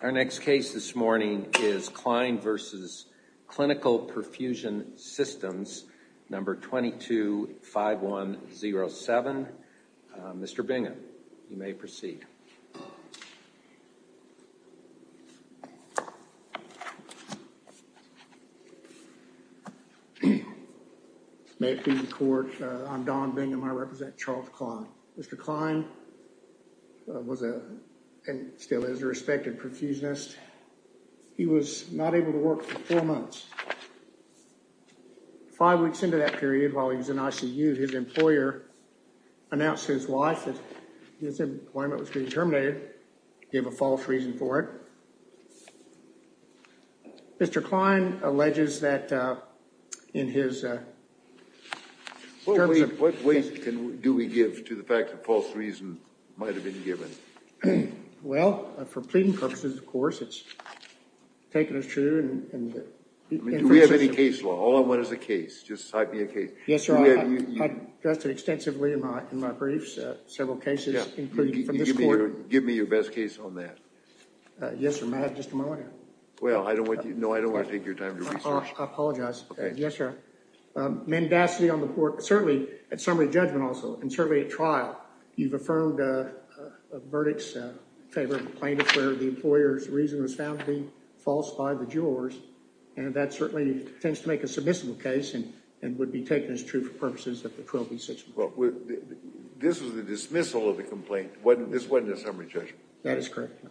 Our next case this morning is Cline v. Clinical Perfusion Systems, number 225107. Mr. Bingham, you may proceed. May it please the court, I'm Don Bingham. I represent Charles Cline. Mr. Cline was a, and still is, a respected perfusionist. He was not able to work for four months. Five weeks into that period, while he was in ICU, his employer announced to his wife that his employment was being terminated. He gave a false reason for it. Mr. Cline alleges that in his... What weight do we give to the fact that false reason might have been given? Well, for pleading purposes, of course, it's taken as true. Do we have any case law? All I want is a case. Just type me a case. Yes, sir. I've addressed it extensively in my briefs, several cases, including from this court. Give me your best case on that. Yes, sir, may I have just a moment here? Well, I don't want you, no, I don't want to take your time to research. I apologize. Yes, sir. Mandacity on the court, certainly at summary judgment also, and certainly at trial, you've affirmed a verdict in favor of a plaintiff where the employer's reason was found to be false by the jurors, and that certainly tends to make a submissive case and would be taken as true for purposes of the 12B6... Well, this was a dismissal of the complaint. This wasn't a summary judgment. That is correct.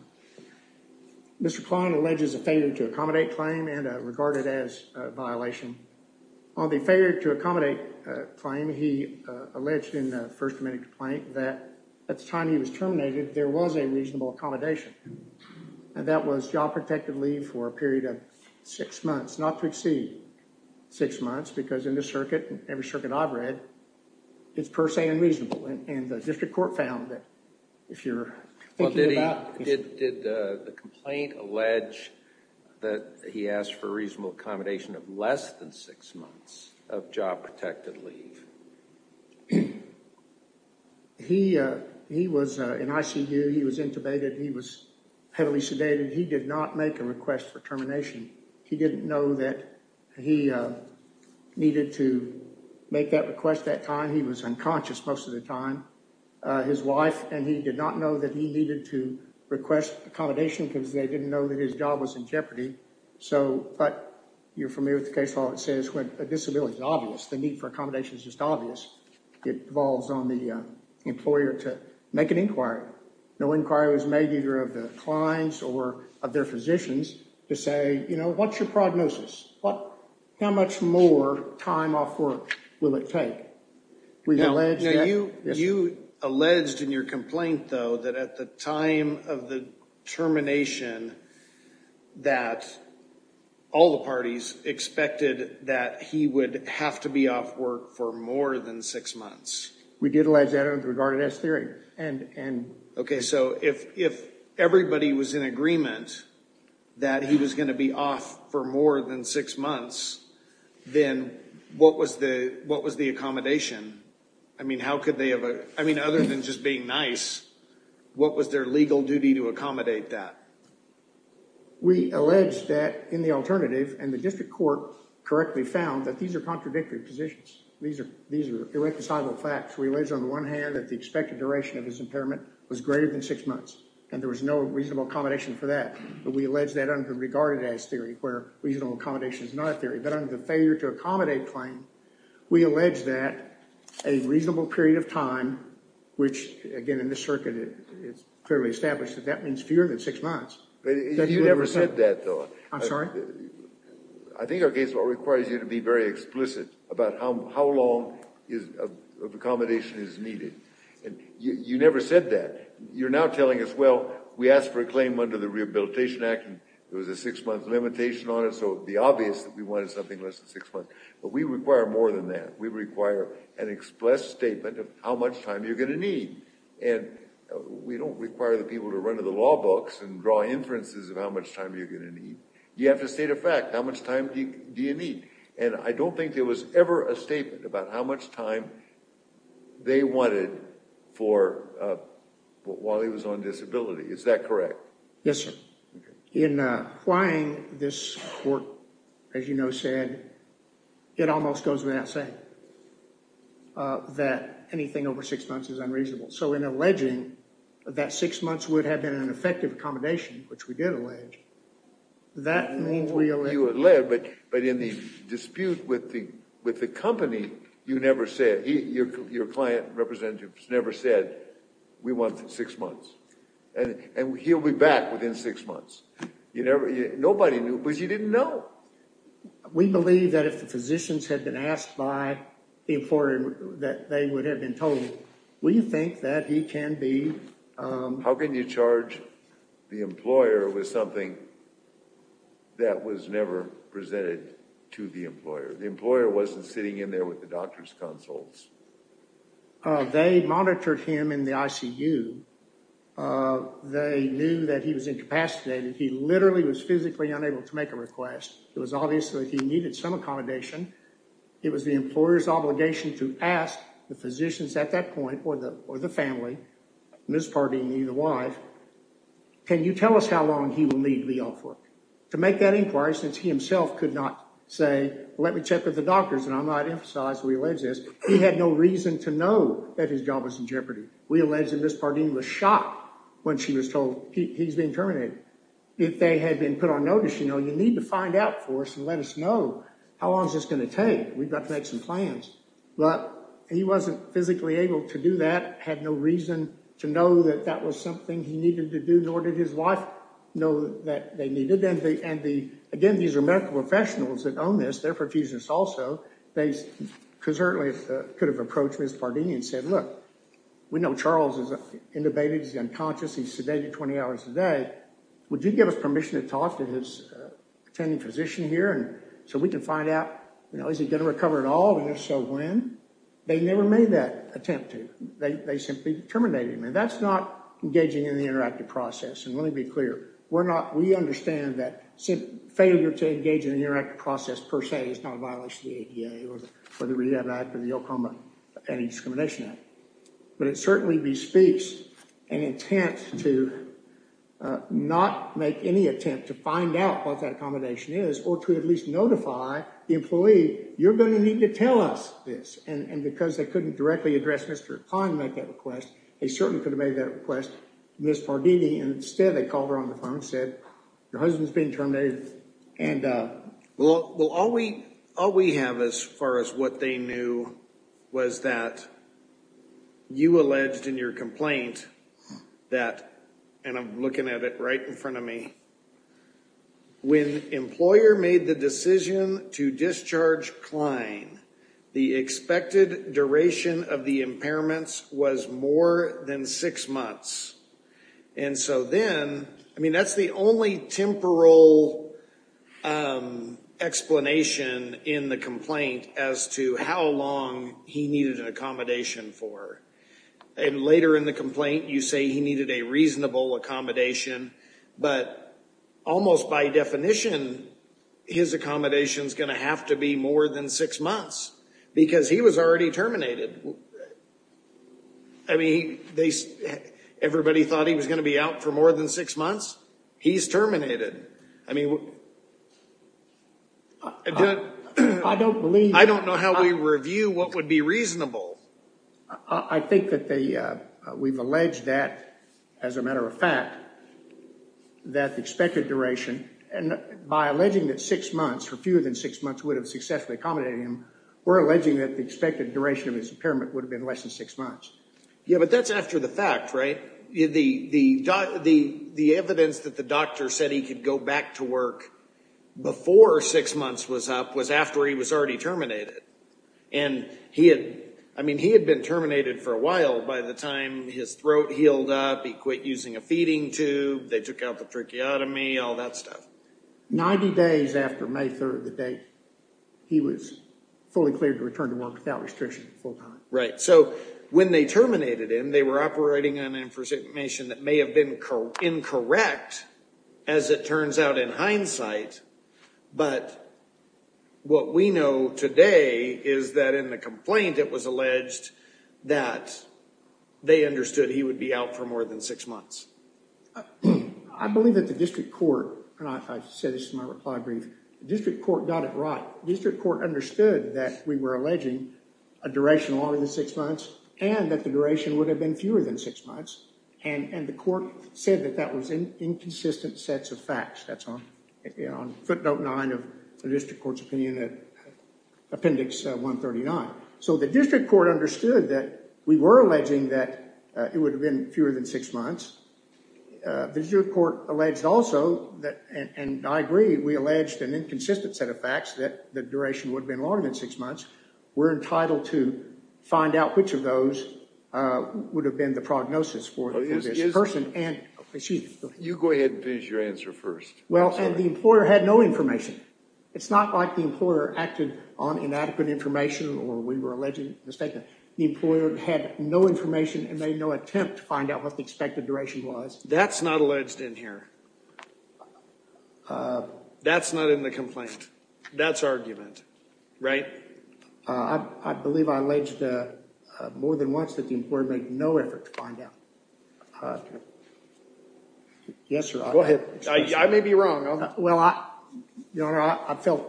Mr. Cline alleges a failure to accommodate claim and regarded as a violation. On the failure to accommodate claim, he alleged in the First Amendment complaint that at the time he was terminated, there was a reasonable accommodation, and that was job protective leave for a period of six months, not to exceed six months, because in the circuit, every circuit I've read, it's per se unreasonable, and the district court found that if you're... Did the complaint allege that he asked for reasonable accommodation of less than six months of job protected leave? He was in ICU. He was intubated. He was heavily sedated. He did not make a request for termination. He didn't know that he needed to make that request that time. He was unconscious most of the time. His wife and he did not know that he needed to request accommodation because they didn't know that his job was in jeopardy, but you're familiar with the case law that says when a disability is obvious, the need for accommodation is just obvious. It revolves on the employer to make an inquiry. No inquiry was made either of the clients or of their physicians to say, you know, what's your prognosis? How much more time off work will it take? You alleged in your complaint though that at the time of the termination that all the parties expected that he would have to be off work for more than six months. We did allege that with regard to this theory. Okay, so if everybody was in agreement that he was going to be off for more than six months, then what was the accommodation? I mean, other than just being nice, what was their legal duty to accommodate that? We allege that in the alternative and the district court correctly found that these are contradictory positions. These are irreconcilable facts. We allege on the one hand that the expected duration of his impairment was greater than six months and there was no reasonable accommodation for that, but we allege that under regarded as theory where reasonable accommodation is not a theory, but under the failure to accommodate claim, we allege that a reasonable period of time, which again in this circuit it's clearly established that that means fewer than six months. You never said that though. I'm sorry? I think our case law requires you to be very explicit about how long is of accommodation is needed and you never said that. You're now telling us, well, we asked for a claim under the Rehabilitation Act and there was a six month limitation on it, so it'd be obvious that we wanted something less than six months, but we require more than that. We require an express statement of how much time you're going to need and we don't require the people to run to the law books and draw inferences of how much time you're going to need. You have to state a fact. How much time do you need? And I don't think there was ever a statement about how much time they wanted for while he was on disability. Is that correct? Yes, sir. In applying this work, as you know, said it almost goes without saying that anything over six months is unreasonable. So in alleging that six months would have been an effective accommodation, which we did allege, that means we allege. But in the dispute with the company, you never said, your client representatives never said, we want six months and he'll be back within six months. Nobody knew because you didn't know. We believe that if the physicians had been asked by the employer that they would have been told, we think that he can be... How can you charge the employer with something that was never presented to the employer? The employer wasn't sitting in there with the doctor's consults. They monitored him in the ICU. They knew that he was incapacitated. He literally was physically unable to make a request. It was obvious that he needed some accommodation. It was the employer's obligation to ask the physicians at that point or the family, Ms. Pardini, the wife, can you tell us how long he will need to be off work? To make that inquiry, since he himself could not say, let me check with the doctors, and I might emphasize, we allege this, he had no reason to know that his job was in jeopardy. We allege that Ms. Pardini was shocked when she was told he's being terminated. If they had been put on notice, you know, you need to find out for us and let us know how long is this going to take. We've got to make some plans. But he wasn't physically able to do that, had no reason to know that that was something he needed to do, nor did his wife know that they needed. Again, these are medical professionals that own this. They're profusionists also. They certainly could have approached Ms. Pardini and said, look, we know Charles is intubated. He's unconscious. He's sedated 20 hours a day. Would you give us permission to talk to his attending physician here so we can find out, you know, is he going to recover at all? And if so, when? They never made that attempt to. They simply terminated him. And that's not engaging in the interactive process. And let me be clear, we're not, we understand that failure to engage in an interactive process, per se, is not a violation of the ADA or the Redefined Act or the Oklahoma Anti-Discrimination Act. But it certainly bespeaks an intent to not make any attempt to find out what that accommodation is or to at least notify the employee, you're going to need to tell us this. And because they couldn't directly address Mr. Khan to make that request, they certainly could have made that request to Ms. Pardini. And instead, they called her on the phone and said, your husband's been terminated. And... Well, all we have as far as what they knew was that you alleged in your complaint that, and I'm looking at it right in front of me, when employer made the decision to discharge Klein, the expected duration of the impairments was more than six months. And so then, I mean, that's the only temporal explanation in the complaint as to how long he needed an accommodation for. And later in the complaint, you say he needed a reasonable accommodation, but almost by definition, his accommodation is going to have to be more than six months because he was already terminated. I mean, everybody thought he was going to be out for more than six months. He's terminated. I mean... I don't believe... I don't know how we review what would be reasonable. I think that we've alleged that, as a matter of fact, that the expected duration, and by alleging that six months, for fewer than six months would have successfully accommodated him, we're alleging that the expected duration of his impairment would have been less than six months. Yeah, but that's after the fact, right? The evidence that the doctor said he could go back to work before six months was up was after he was already terminated. And he had... I mean, he had been terminated for a while. By the time his throat healed up, he quit using a feeding tube, they took out the tracheotomy, all that stuff. 90 days after May 3rd, the date, he was fully cleared to return to work without restriction full-time. Right. So when they terminated him, they were operating on information that may have been incorrect as it turns out in hindsight, but what we know today is that in the complaint it was alleged that they understood he would be out for more than six months. I believe that the district court, and I said this in my reply brief, the district court got it right. The district court understood that we were alleging a duration longer than six months and that the duration would have been fewer than six months. And the court said that that was inconsistent sets of facts. That's on footnote nine of the district court's opinion at appendix 139. So the district court understood that we were alleging that it would have been fewer than six months. The district court alleged also that, and I agree, we alleged an inconsistent set of facts that the duration would have been longer than six months. We're entitled to find out which of those would have been the prognosis for this person. You go ahead and finish your answer first. Well, and the employer had no information. It's not like the employer acted on inadequate information or we were alleging a mistake. The employer had no information and made no attempt to find out what the expected duration was. That's not alleged in here. That's not in the complaint. That's argument, right? I believe I alleged more than once that the employer made no effort to find out. Yes, sir. Go ahead. I may be wrong. Well, I, your honor, I felt.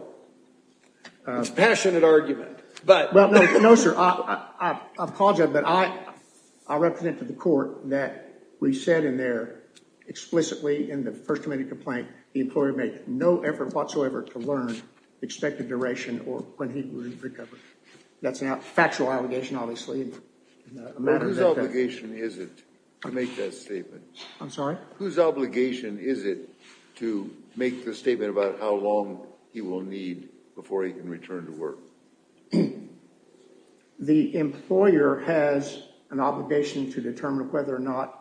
It's a passionate argument. But no, sir. I apologize, but I, I represent to the court that we said in there explicitly in the first committee complaint, the employer made no effort whatsoever to learn expected duration or when he would recover. That's a factual allegation, obviously. Whose obligation is it to make that statement? I'm sorry. Whose obligation is it to make the statement about how long he will need before he can return to work? The employer has an obligation to determine whether or not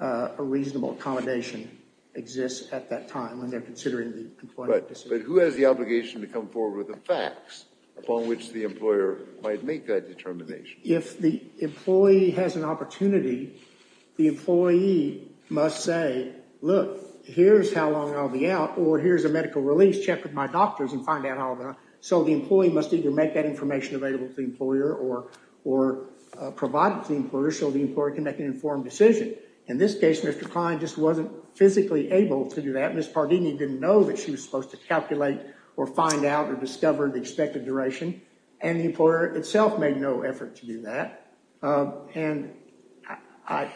a reasonable accommodation exists at that time when they're considering the employment. But who has the obligation to come forward with the facts upon which the employer might make that determination? If the employee has an opportunity, the employee must say, look, here's how long I'll be out. Or here's a medical release. Check with my doctors and find out how long. So the employee must either make that information available to the employer or, or provide it to the employer so the employer can make an informed decision. In this case, Mr. Klein just wasn't physically able to do that. Ms. Pardini didn't know that she was supposed to calculate or find out or discover the expected duration. And the employer itself made no effort to do that. And I,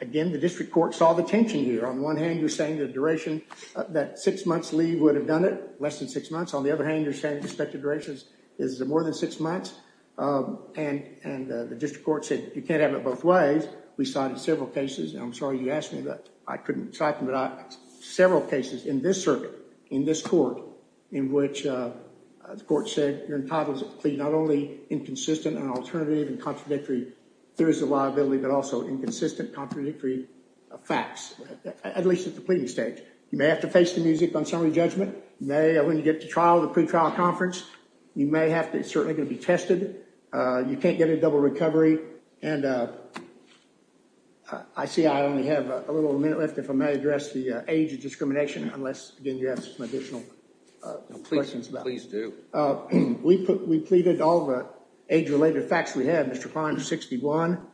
again, the district court saw the tension here. On one hand, you're saying the duration, that six months leave would have done it, less than six months. On the other hand, you're saying the expected duration is more than six months. And, and the district court said you can't have it both ways. We cited several cases. And I'm sorry you asked me, but I couldn't cite them, but several cases in this circuit, in this court, in which the court said you're entitled to not only inconsistent and alternative and contradictory theories of liability, but also inconsistent contradictory facts, at least at the pleading stage. You may have to face the music on summary judgment. May, when you get to trial, the pretrial conference, you may have to, it's certainly going to be tested. You can't get a double recovery. And I see I only have a little minute left. If I may address the age of discrimination, unless again, you have some additional questions. Please do. We put, we pleaded all the age-related facts we had. Mr. Klein was 61.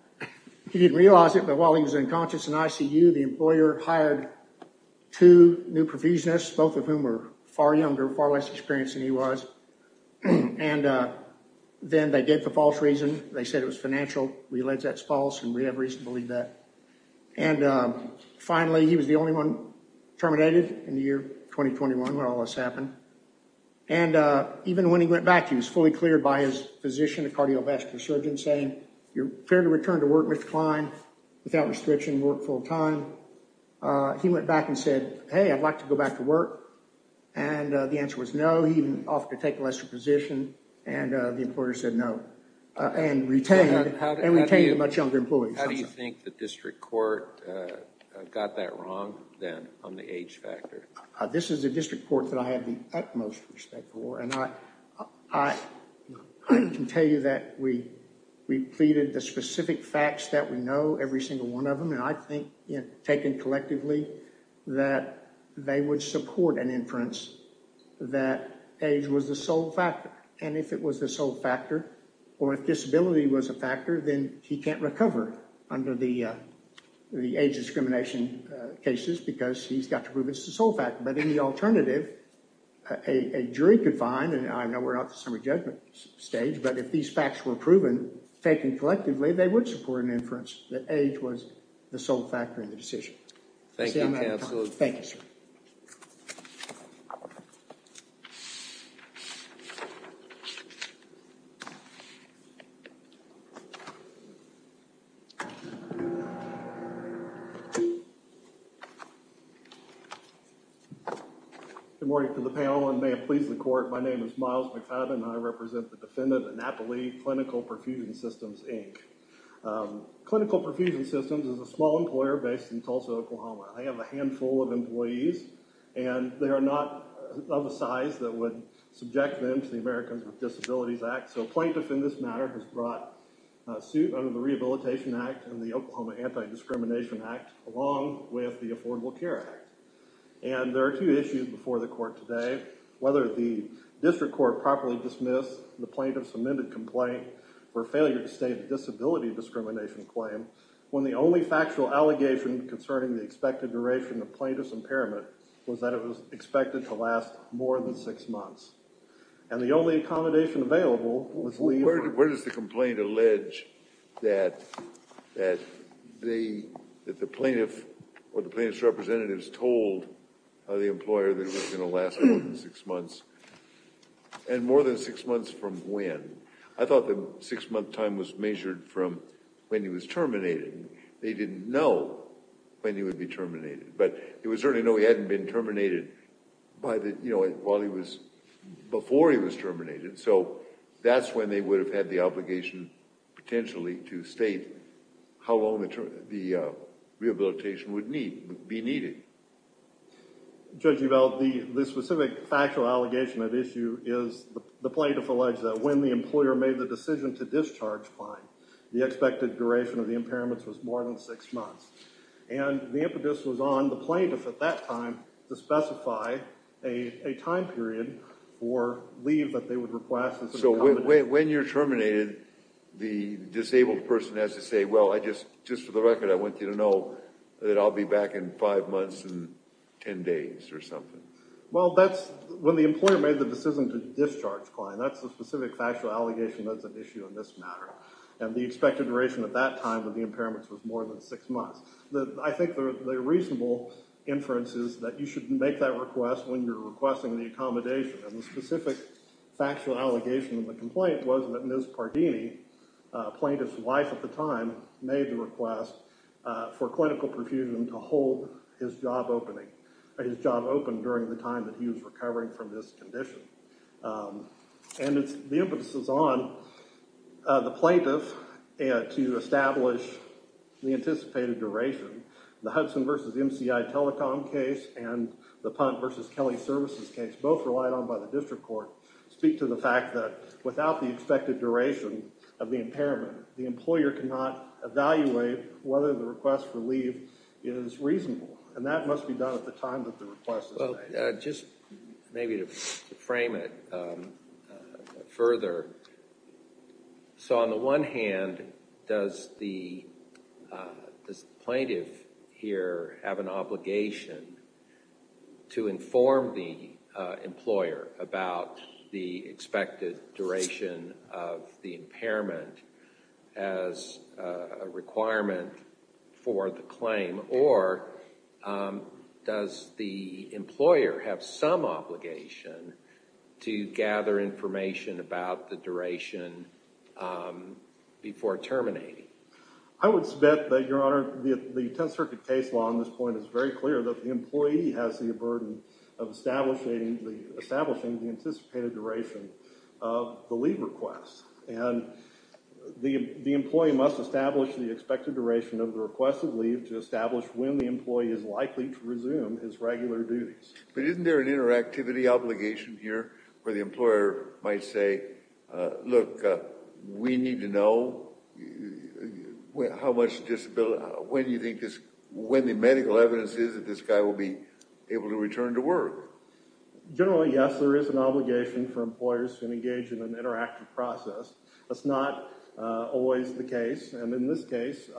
He didn't realize it, but while he was unconscious in ICU, the employer hired two new profusionists, both of whom were far younger, far less experienced than he was. And then they gave the false reason. They said it was financial. We allege that's false, and we have reason to believe that. And finally, he was the only one terminated in the year 2021 when all this happened. And even when he went back, he was fully cleared by his physician, a cardiovascular surgeon, saying, you're cleared to return to work with Klein without restriction, work full time. He went back and said, hey, I'd like to go back to work. And the answer was no. He even offered to take a lesser position. And the employer said no, and retained a much younger employee. How do you think the district court got that wrong then on the age factor? This is a district court that I have the utmost respect for. And I can tell you that we pleaded the specific facts that we know, every single one of them. And I think, taken collectively, that they would support an inference that age was the sole factor. And if it was the sole factor, or if disability was a factor, then he can't recover under the age discrimination cases because he's got to prove it's the sole factor. But in the alternative, a jury could find, and I know we're not at the summary judgment stage, but if these facts were proven, taken collectively, they would support an inference that age was the sole factor in the case. Good morning to the panel, and may it please the court. My name is Miles McFadden, and I represent the defendant, Annapolis Clinical Perfusion Systems, Inc. Clinical Perfusion Systems is a small employer based in Tulsa, Oklahoma. They have a handful of employees, and they are not of a size that would subject them to the Americans with Disabilities Act. So a plaintiff, in this matter, has brought a suit under the Rehabilitation Act and the Oklahoma Anti-Discrimination Act, along with the Affordable Care Act. And there are two issues before the court today, whether the district court properly dismissed the plaintiff's amended complaint or failure to state a disability discrimination claim, when the only factual allegation concerning the expected duration of plaintiff's impairment was that it was expected to last more than six months, and the only accommodation available was leave. Where does the complaint allege that the plaintiff or the plaintiff's representatives told the employer that it was going to last more than six months, and more than six months from when? I thought the six-month time was measured from when he was terminated. They didn't know when he would be terminated, but they would certainly know he hadn't been terminated by the, you know, while he was, before he was terminated. So that's when they would have had the obligation, potentially, to state how long the rehabilitation would need, be needed. Judge Uvell, the specific factual allegation at issue is the plaintiff alleged that when the employer made the decision to discharge fine, the expected duration of the impairments was more than six months, and the impetus was on the plaintiff at that time to specify a time period for leave that they would request. So when you're terminated, the disabled person has to say, well, I just, just for the record, I want you to know that I'll be back in five months and 10 days or something. Well, that's when the employer made the decision to discharge client. That's the specific factual allegation that's at issue in this matter, and the expected duration at that time when the employer made the decision was more than six months. I think the reasonable inference is that you should make that request when you're requesting the accommodation, and the specific factual allegation in the complaint was that Ms. Pardini, plaintiff's wife at the time, made the request for clinical profusion to hold his job opening, his job open during the time that he was recovering from this condition. And it's, the impetus is on the plaintiff to establish the anticipated duration. The Hudson versus MCI Telecom case and the Punt versus Kelly Services case, both relied on by the district court, speak to the fact that without the expected duration of the impairment, the employer cannot evaluate whether the request for leave is reasonable, and that must be done at the time that the request is made. Well, just maybe to frame it further, so on the one hand, does the plaintiff here have an obligation to inform the employer about the expected duration of the impairment as a requirement for the claim, or does the employer have some obligation to gather information about the duration before terminating? I would bet that, Your Honor, the Tenth Circuit case law on this point is very clear that the employee has the burden of establishing the anticipated duration of the leave request. And the employee must establish the expected duration of the requested leave to establish when the employee is likely to resume his regular duties. But isn't there an interactivity obligation here, where the employer might say, look, we need to know how much disability, when you think this, when the medical evidence is that this guy will be able to return to work? Generally, yes, there is an obligation for employers to engage in an interactive process. That's not always the case. And in this case,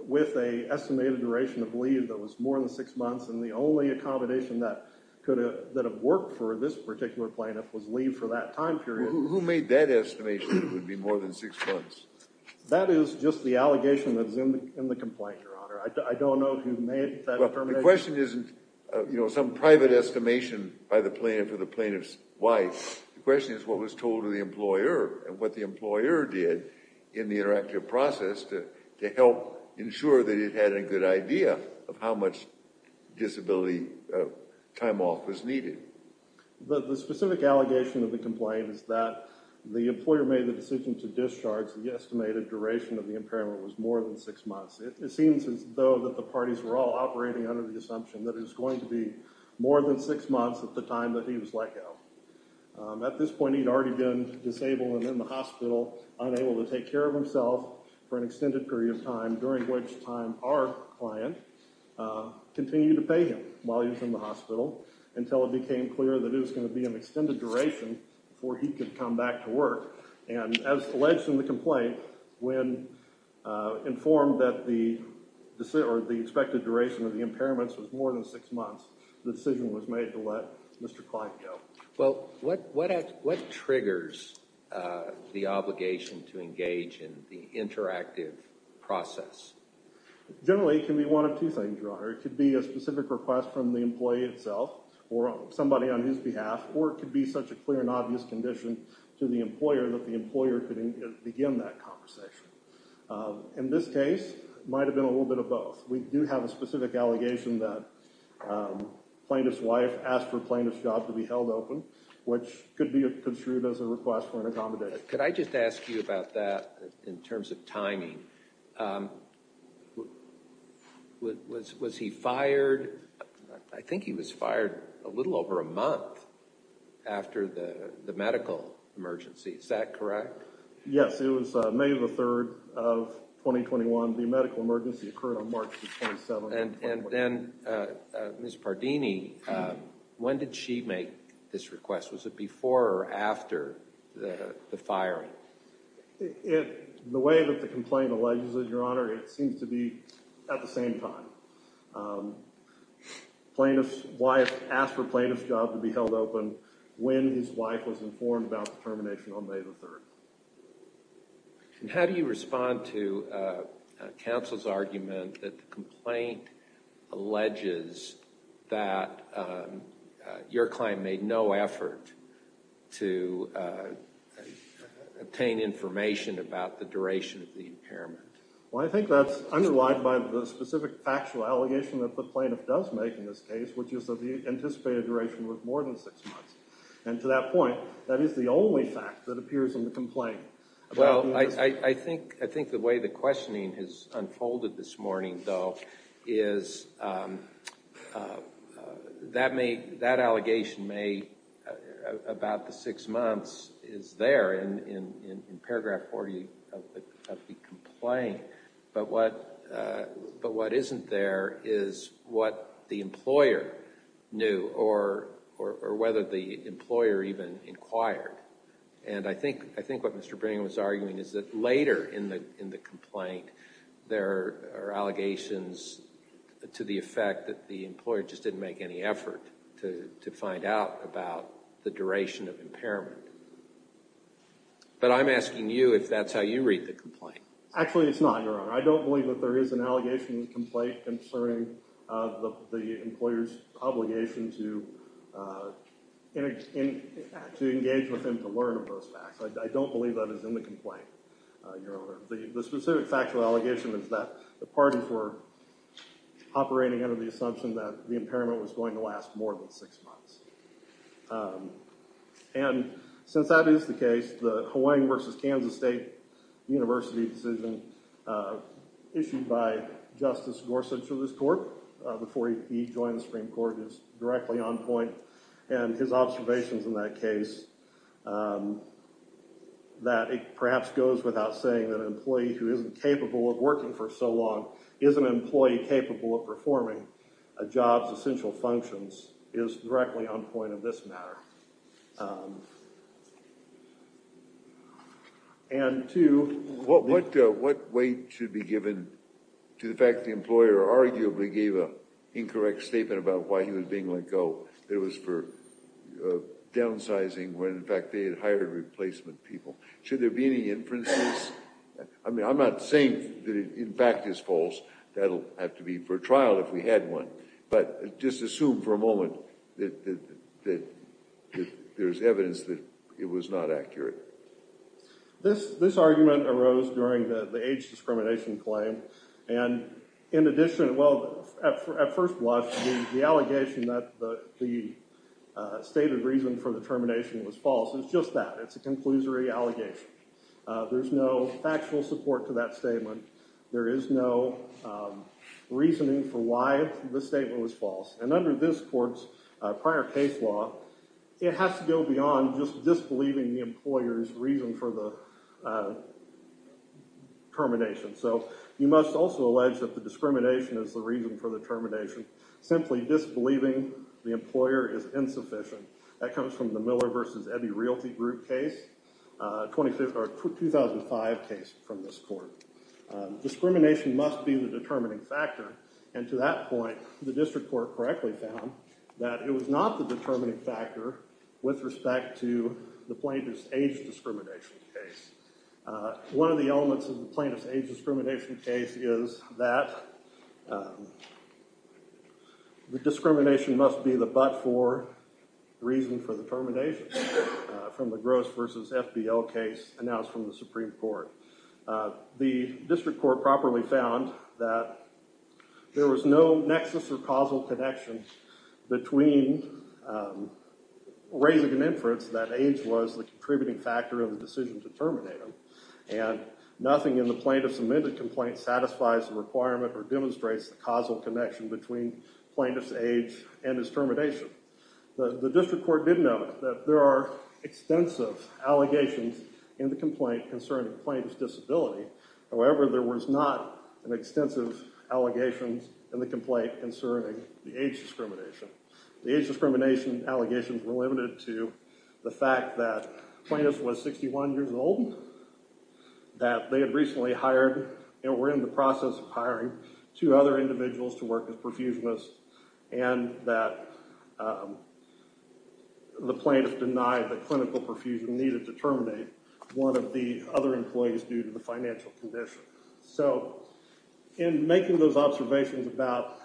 with an estimated duration of leave that was more than six months, and the only accommodation that could have worked for this particular plaintiff was leave for that time period. Who made that estimation that it would be more than six months? That is just the allegation that is in the complaint, Your Honor. I don't know who made that determination. Well, the question isn't, you know, some private estimation by the plaintiff or the plaintiff's wife. The question is, what was told to the employer and what the employer did in the interactive process to help ensure that it had a good idea of how much disability time off was needed. The specific allegation of the complaint is that the employer made the decision to discharge the estimated duration of the impairment was more than six months. It seems as though that the more than six months at the time that he was let go. At this point, he'd already been disabled and in the hospital, unable to take care of himself for an extended period of time, during which time our client continued to pay him while he was in the hospital until it became clear that it was going to be an extended duration before he could come back to work. And as alleged in the complaint, when informed that the expected duration of the impairments was more than six months, the decision was made to let Mr. Klein go. Well, what triggers the obligation to engage in the interactive process? Generally, it can be one of two things, Your Honor. It could be a specific request from the employee itself or somebody on his behalf, or it could be such a clear and obvious condition to the employer that the employer could begin that conversation. In this case, might have been a little bit of both. We do have a specific allegation that plaintiff's wife asked for plaintiff's job to be held open, which could be construed as a request for an accommodator. Could I just ask you about that in terms of timing? Was he fired? I think he was fired a little over a month after the medical emergency. Is that correct? Yes, it was May the 3rd of 2021. The medical emergency occurred on March 27th. And then Ms. Pardini, when did she make this request? Was it before or after the firing? The way that the complaint alleges it, Your Honor, it seems to be at the same time. Plaintiff's wife asked for plaintiff's job to be held open when his wife was informed about termination on May the 3rd. And how do you respond to counsel's argument that the complaint alleges that your client made no effort to obtain information about the duration of the impairment? Well, I think that's underlined by the specific factual allegation that the plaintiff does make in this case, which is that the anticipated duration was more than six months. And to that only fact that appears in the complaint. Well, I think the way the questioning has unfolded this morning, though, is that allegation may, about the six months, is there in paragraph 40 of the complaint. But what isn't there is what the employer knew or whether the employer even inquired. And I think what Mr. Brangham was arguing is that later in the complaint, there are allegations to the effect that the employer just didn't make any effort to find out about the duration of impairment. But I'm asking you if that's how you read the complaint. Actually, it's not, Your Honor. I don't believe that there is an allegation in the complaint concerning the employer's obligation to engage with him to learn of those facts. I don't believe that is in the complaint, Your Honor. The specific factual allegation is that the parties were operating under the assumption that the impairment was going to last more than six months. And since that is the case, the Hawaii versus Kansas State University decision issued by Justice Gorsuch of this court before he joined the Supreme Court is directly on point. And his observations in that case, that it perhaps goes without saying that an employee who isn't capable of working for so long is an employee capable of performing a job's essential functions is directly on point of this matter. And two, what weight should be given to the fact that the employer arguably gave an incorrect statement about why he was being let go, that it was for downsizing when in fact they had hired replacement people? Should there be any inferences? I mean, I'm not saying that it in fact is false. That'll have to be for trial if we had one. But just assume for a moment that there's evidence that it was not accurate. This argument arose during the age discrimination claim. And in addition, well, at first blush, the allegation that the stated reason for the termination was false is just that. It's a conclusory allegation. There's no factual support to that statement. There is no reasoning for why the statement was false. And under this court's prior case law, it has to go beyond just disbelieving the employer's reason for the termination. So you must also allege that the discrimination is the reason for the termination. Simply disbelieving the employer is insufficient. That comes from the Miller versus Ebi Realty Group case, 2005 case from this court. Discrimination must be the determining factor. And to that point, the district court correctly found that it was not the determining factor with respect to the plaintiff's age discrimination case. One of the elements of the plaintiff's age discrimination case is that the discrimination must be the but-for reason for the termination from the Gross versus FBL case announced from the Supreme Court. The district court properly found that there was no nexus or causal connection between raising an inference that age was the contributing factor of the decision to terminate him. And nothing in the plaintiff's amended complaint satisfies the requirement or demonstrates the causal connection between plaintiff's age and his termination. The district court did note that there are extensive allegations in the complaint concerning plaintiff's disability. However, there was not an extensive allegation in the complaint concerning the age discrimination. The age discrimination allegations were limited to the fact that plaintiff was 61 years old, that they had recently hired and were in the process of hiring two other individuals to work as perfusionists, and that the plaintiff denied that clinical perfusion needed to terminate one of the other employees due to the financial condition. So in making those observations about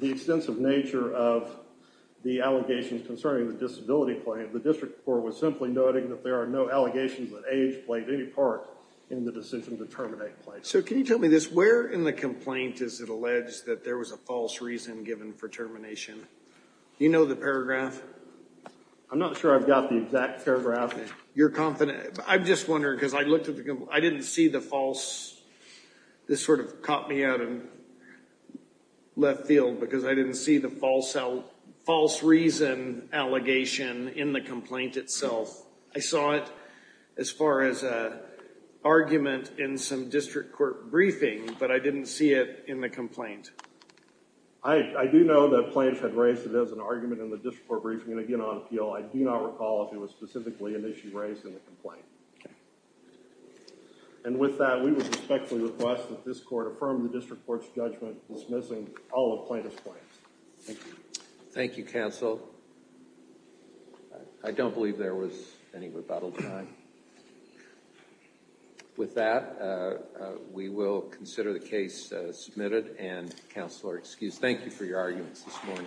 the extensive nature of the allegations concerning the disability claim, the district court was So can you tell me this, where in the complaint is it alleged that there was a false reason given for termination? Do you know the paragraph? I'm not sure I've got the exact paragraph. You're confident, I'm just wondering because I looked at the, I didn't see the false, this sort of caught me out in left field because I didn't see the false out, false reason allegation in the complaint itself. I saw it as far as a argument in some district court briefing, but I didn't see it in the complaint. I do know that plaintiff had raised it as an argument in the district court briefing and again on appeal. I do not recall if it was specifically an issue raised in the complaint. Okay. And with that, we would respectfully request that this court affirm the district court's judgment dismissing all of plaintiff's claims. Thank you. Thank you, counsel. I don't believe there was any rebuttal time. With that, we will consider the case submitted and counsel are excused. Thank you for your arguments this morning.